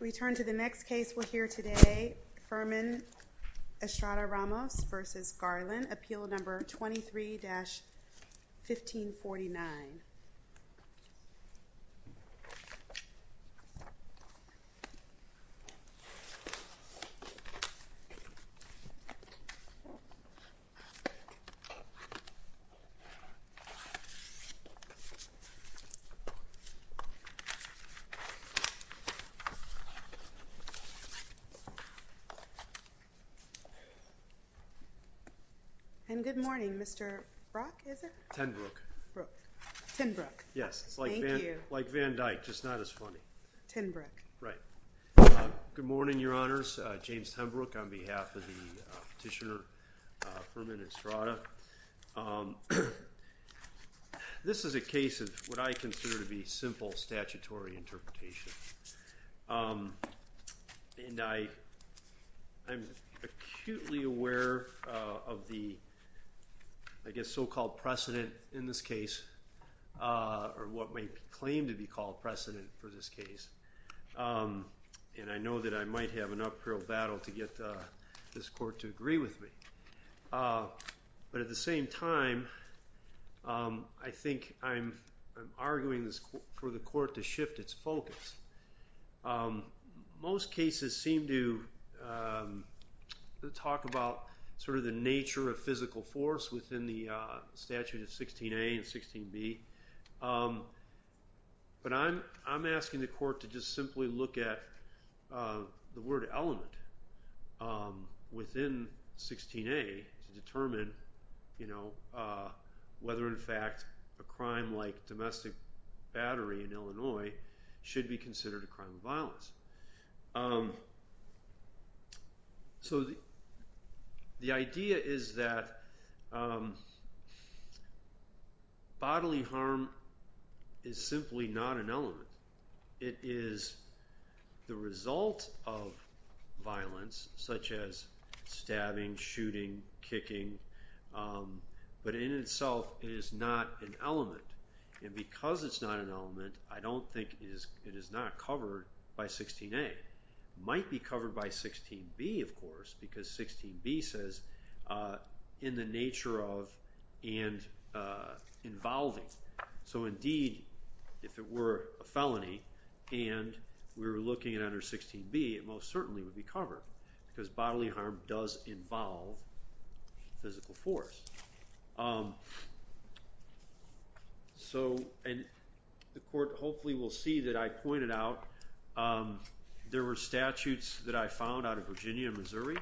We turn to the next case we'll hear today, Furman Estrada-Ramos v. Garland, Appeal Number 23-1549. And good morning, Mr. Brock, is it? Brook. Tenbrook. Yes. Thank you. It's like Van Dyke, just not as funny. Tenbrook. Right. Good morning, Your Honors. James Tenbrook on behalf of the petitioner, Furman Estrada. This is a case of what I consider to be simple statutory interpretation. And I'm acutely aware of the, I guess, so-called precedent in this case, or what may claim to be called precedent for this case. And I know that I might have an uphill battle to get this court to agree with me. But at the same time, I think I'm arguing for the court to shift its focus. Most cases seem to talk about sort of the nature of physical force within the statute of 16A and 16B. But I'm asking the court to just simply look at the word element within 16A to determine whether, in fact, a crime like domestic battery in Illinois should be considered a crime of violence. So the idea is that bodily harm is simply not an element. It is the result of violence, such as stabbing, shooting, kicking, but in itself is not an element. And because it's not an element, I don't think it is not covered by 16A. It might be covered by 16B, of course, because 16B says in the nature of and involving. So indeed, if it were a felony and we were looking at under 16B, it most certainly would be covered because bodily harm does involve physical force. So the court hopefully will see that I pointed out there were statutes that I found out of Virginia and Missouri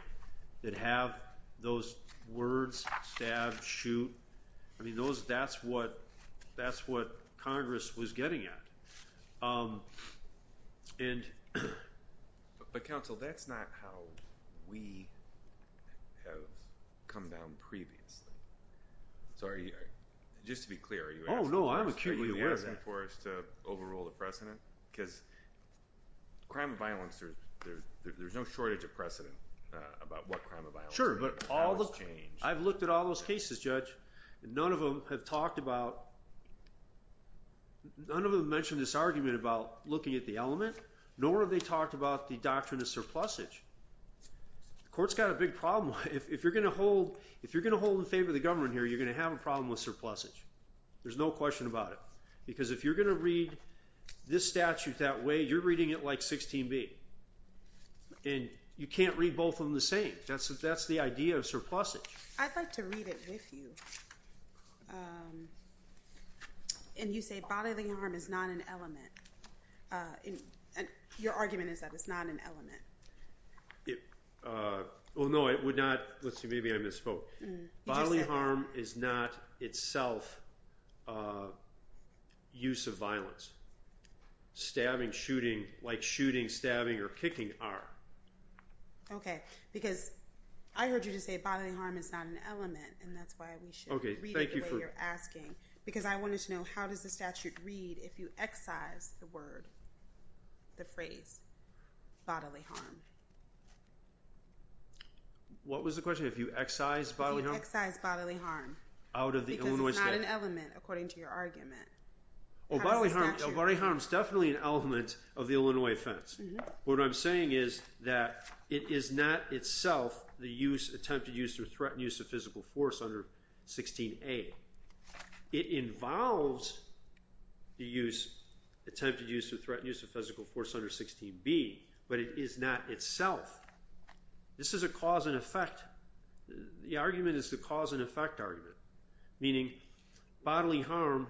that have those words, stab, shoot. I mean, that's what Congress was getting at. But counsel, that's not how we have come down previously. So just to be clear, are you asking for us to overrule the precedent? Because crime of violence, there's no shortage of precedent about what crime of violence is. Sure, but I've looked at all those cases, Judge. None of them have mentioned this argument about looking at the element, nor have they talked about the doctrine of surplusage. The court's got a big problem. If you're going to hold in favor of the government here, you're going to have a problem with surplusage. There's no question about it because if you're going to read this statute that way, you're reading it like 16B. And you can't read both of them the same. That's the idea of surplusage. I'd like to read it with you. And you say bodily harm is not an element. Your argument is that it's not an element. Well, no, it would not. Let's see, maybe I misspoke. Bodily harm is not itself use of violence. Stabbing, shooting, like shooting, stabbing, or kicking are. Okay, because I heard you just say bodily harm is not an element, and that's why we should read it the way you're asking. Because I wanted to know how does the statute read if you excise the word, the phrase bodily harm? What was the question, if you excise bodily harm? If you excise bodily harm. Out of the Illinois statute. Because it's not an element, according to your argument. Oh, bodily harm is definitely an element of the Illinois offense. What I'm saying is that it is not itself the use, attempted use or threatened use of physical force under 16A. It involves the use, attempted use or threatened use of physical force under 16B, but it is not itself. This is a cause and effect. The argument is the cause and effect argument. Meaning bodily harm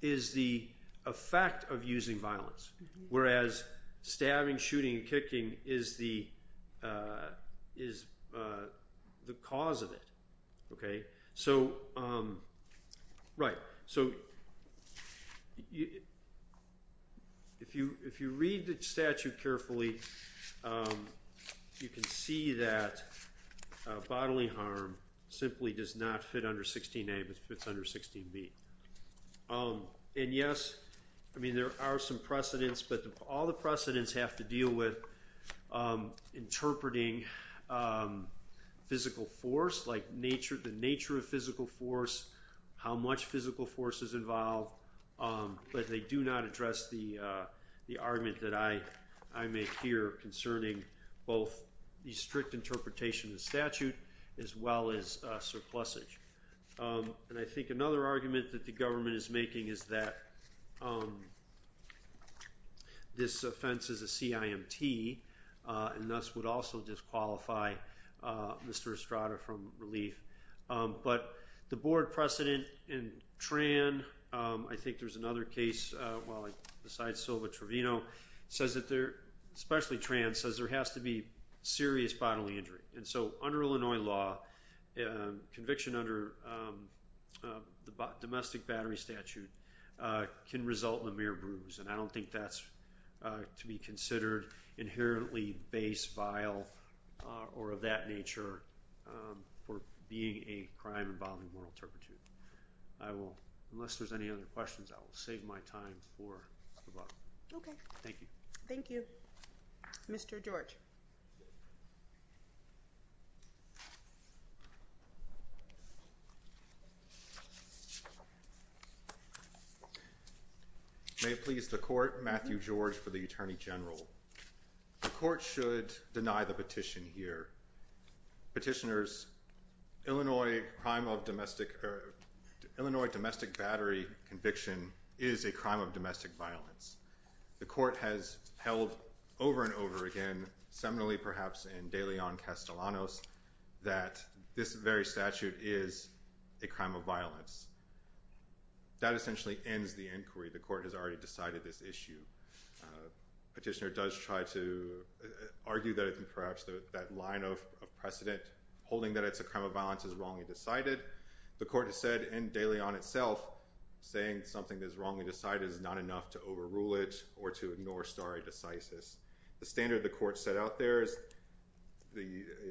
is the effect of using violence. Whereas, stabbing, shooting, and kicking is the cause of it. If you read the statute carefully, you can see that bodily harm simply does not fit under 16A, but fits under 16B. Yes, there are some precedents, but all the precedents have to deal with interpreting physical force, like the nature of physical force, how much physical force is involved. But they do not address the argument that I make here concerning both the strict interpretation of the statute as well as surplusage. And I think another argument that the government is making is that this offense is a CIMT, and thus would also disqualify Mr. Estrada from relief. But the board precedent in Tran, I think there's another case besides Silva Trevino, says that there, especially Tran, says there has to be serious bodily injury. And so under Illinois law, conviction under the domestic battery statute can result in a mere bruise. And I don't think that's to be considered inherently base, vile, or of that nature for being a crime involving moral turpitude. Unless there's any other questions, I will save my time for the book. Thank you. Thank you. Mr. George. May it please the court, Matthew George for the Attorney General. The court should deny the petition here. Petitioners, Illinois domestic battery conviction is a crime of domestic violence. The court has held over and over again, seminally perhaps in De Leon Castellanos, that this very statute is a crime of violence. That essentially ends the inquiry. The court has already decided this issue. Petitioner does try to argue that perhaps that line of precedent, holding that it's a crime of violence, is wrongly decided. The court has said in De Leon itself, saying something is wrongly decided is not enough to overrule it or to ignore stare decisis. The standard the court set out there is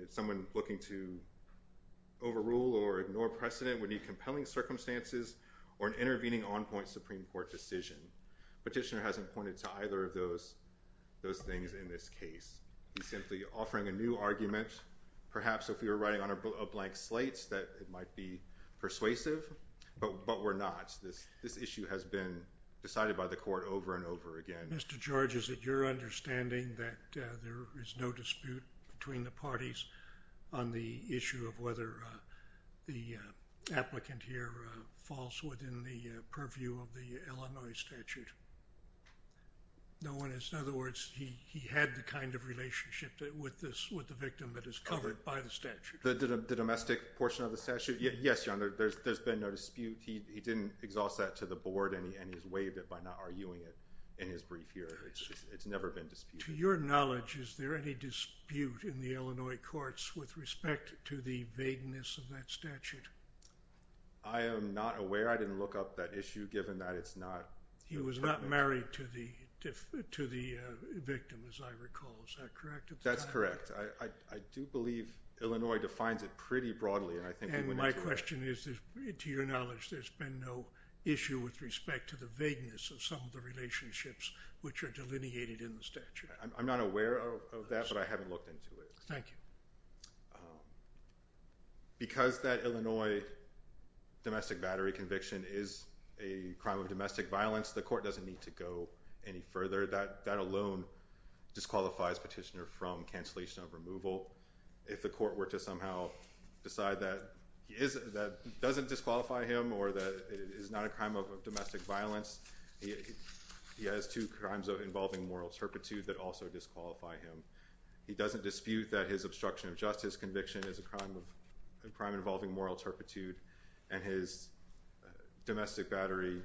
someone looking to overrule or ignore precedent would need compelling circumstances or an intervening on point Supreme Court decision. Petitioner hasn't pointed to either of those things in this case. He's simply offering a new argument. Perhaps if we were writing on a blank slate that it might be persuasive. But we're not. This issue has been decided by the court over and over again. Mr. George, is it your understanding that there is no dispute between the parties on the issue of whether the applicant here falls within the purview of the Illinois statute? No one has. In other words, he had the kind of relationship with the victim that is covered by the statute. The domestic portion of the statute? Yes, Your Honor. There's been no dispute. He didn't exhaust that to the board and he's waived it by not arguing it in his brief here. It's never been disputed. To your knowledge, is there any dispute in the Illinois courts with respect to the vagueness of that statute? I am not aware. I didn't look up that issue given that it's not. He was not married to the victim, as I recall. Is that correct? That's correct. I do believe Illinois defines it pretty broadly. And my question is, to your knowledge, there's been no issue with respect to the vagueness of some of the relationships which are delineated in the statute. I'm not aware of that, but I haven't looked into it. Thank you. Because that Illinois domestic battery conviction is a crime of domestic violence, the court doesn't need to go any further. That alone disqualifies Petitioner from cancellation of removal. If the court were to somehow decide that that doesn't disqualify him or that it is not a crime of domestic violence, he has two crimes involving moral turpitude that also disqualify him. He doesn't dispute that his obstruction of justice conviction is a crime involving moral turpitude, and his domestic battery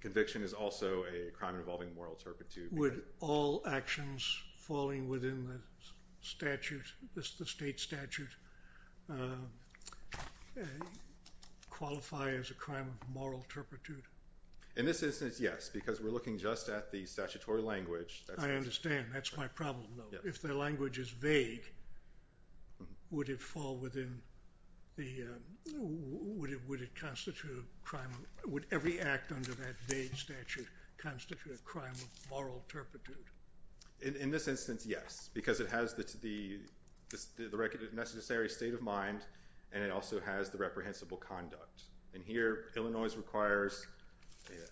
conviction is also a crime involving moral turpitude. Would all actions falling within the statute, the state statute, qualify as a crime of moral turpitude? In this instance, yes, because we're looking just at the statutory language. I understand. That's my problem, though. If the language is vague, would every act under that vague statute constitute a crime of moral turpitude? In this instance, yes, because it has the necessary state of mind, and it also has the reprehensible conduct. Here, Illinois requires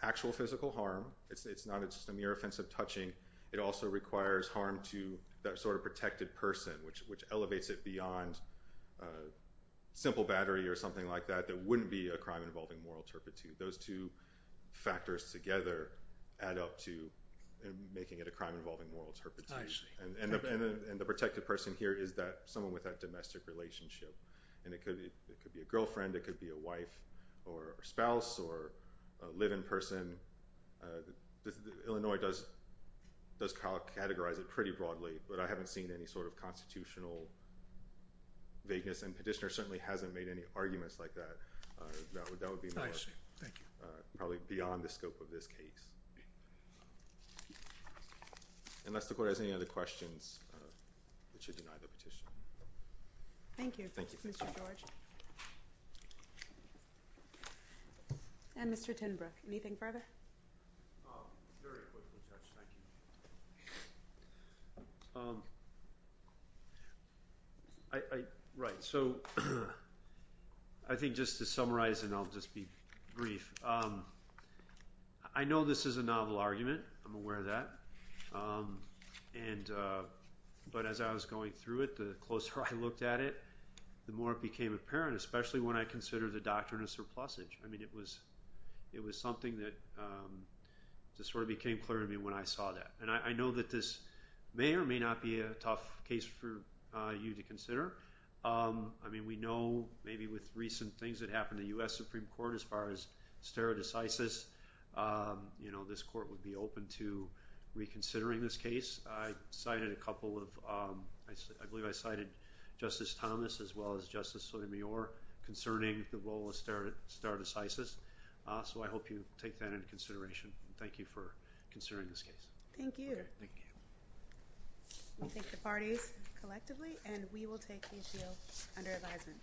actual physical harm. It's not just a mere offense of touching. It also requires harm to that sort of protected person, which elevates it beyond simple battery or something like that. There wouldn't be a crime involving moral turpitude. Those two factors together add up to making it a crime involving moral turpitude. The protected person here is someone with a domestic relationship. It could be a girlfriend. It could be a wife or spouse or a live-in person. Illinois does categorize it pretty broadly, but I haven't seen any sort of constitutional vagueness, and Petitioner certainly hasn't made any arguments like that. That would be probably beyond the scope of this case. Unless the court has any other questions, we should deny the petition. Thank you, Mr. George. And Mr. Tinbrook, anything further? Very quickly, Judge, thank you. Right, so I think just to summarize, and I'll just be brief. I know this is a novel argument. I'm aware of that. But as I was going through it, the closer I looked at it, the more it became apparent, especially when I considered the doctrine of surplusage. I mean, it was something that just sort of became clear to me when I saw that. And I know that this may or may not be a tough case for you to consider. I mean, we know maybe with recent things that happened in the U.S. Supreme Court as far as stare decisis, this court would be open to reconsidering this case. I cited a couple of – I believe I cited Justice Thomas as well as Justice Sotomayor concerning the role of stare decisis. So I hope you take that into consideration. Thank you for considering this case. Thank you. We thank the parties collectively, and we will take these deals under advisement.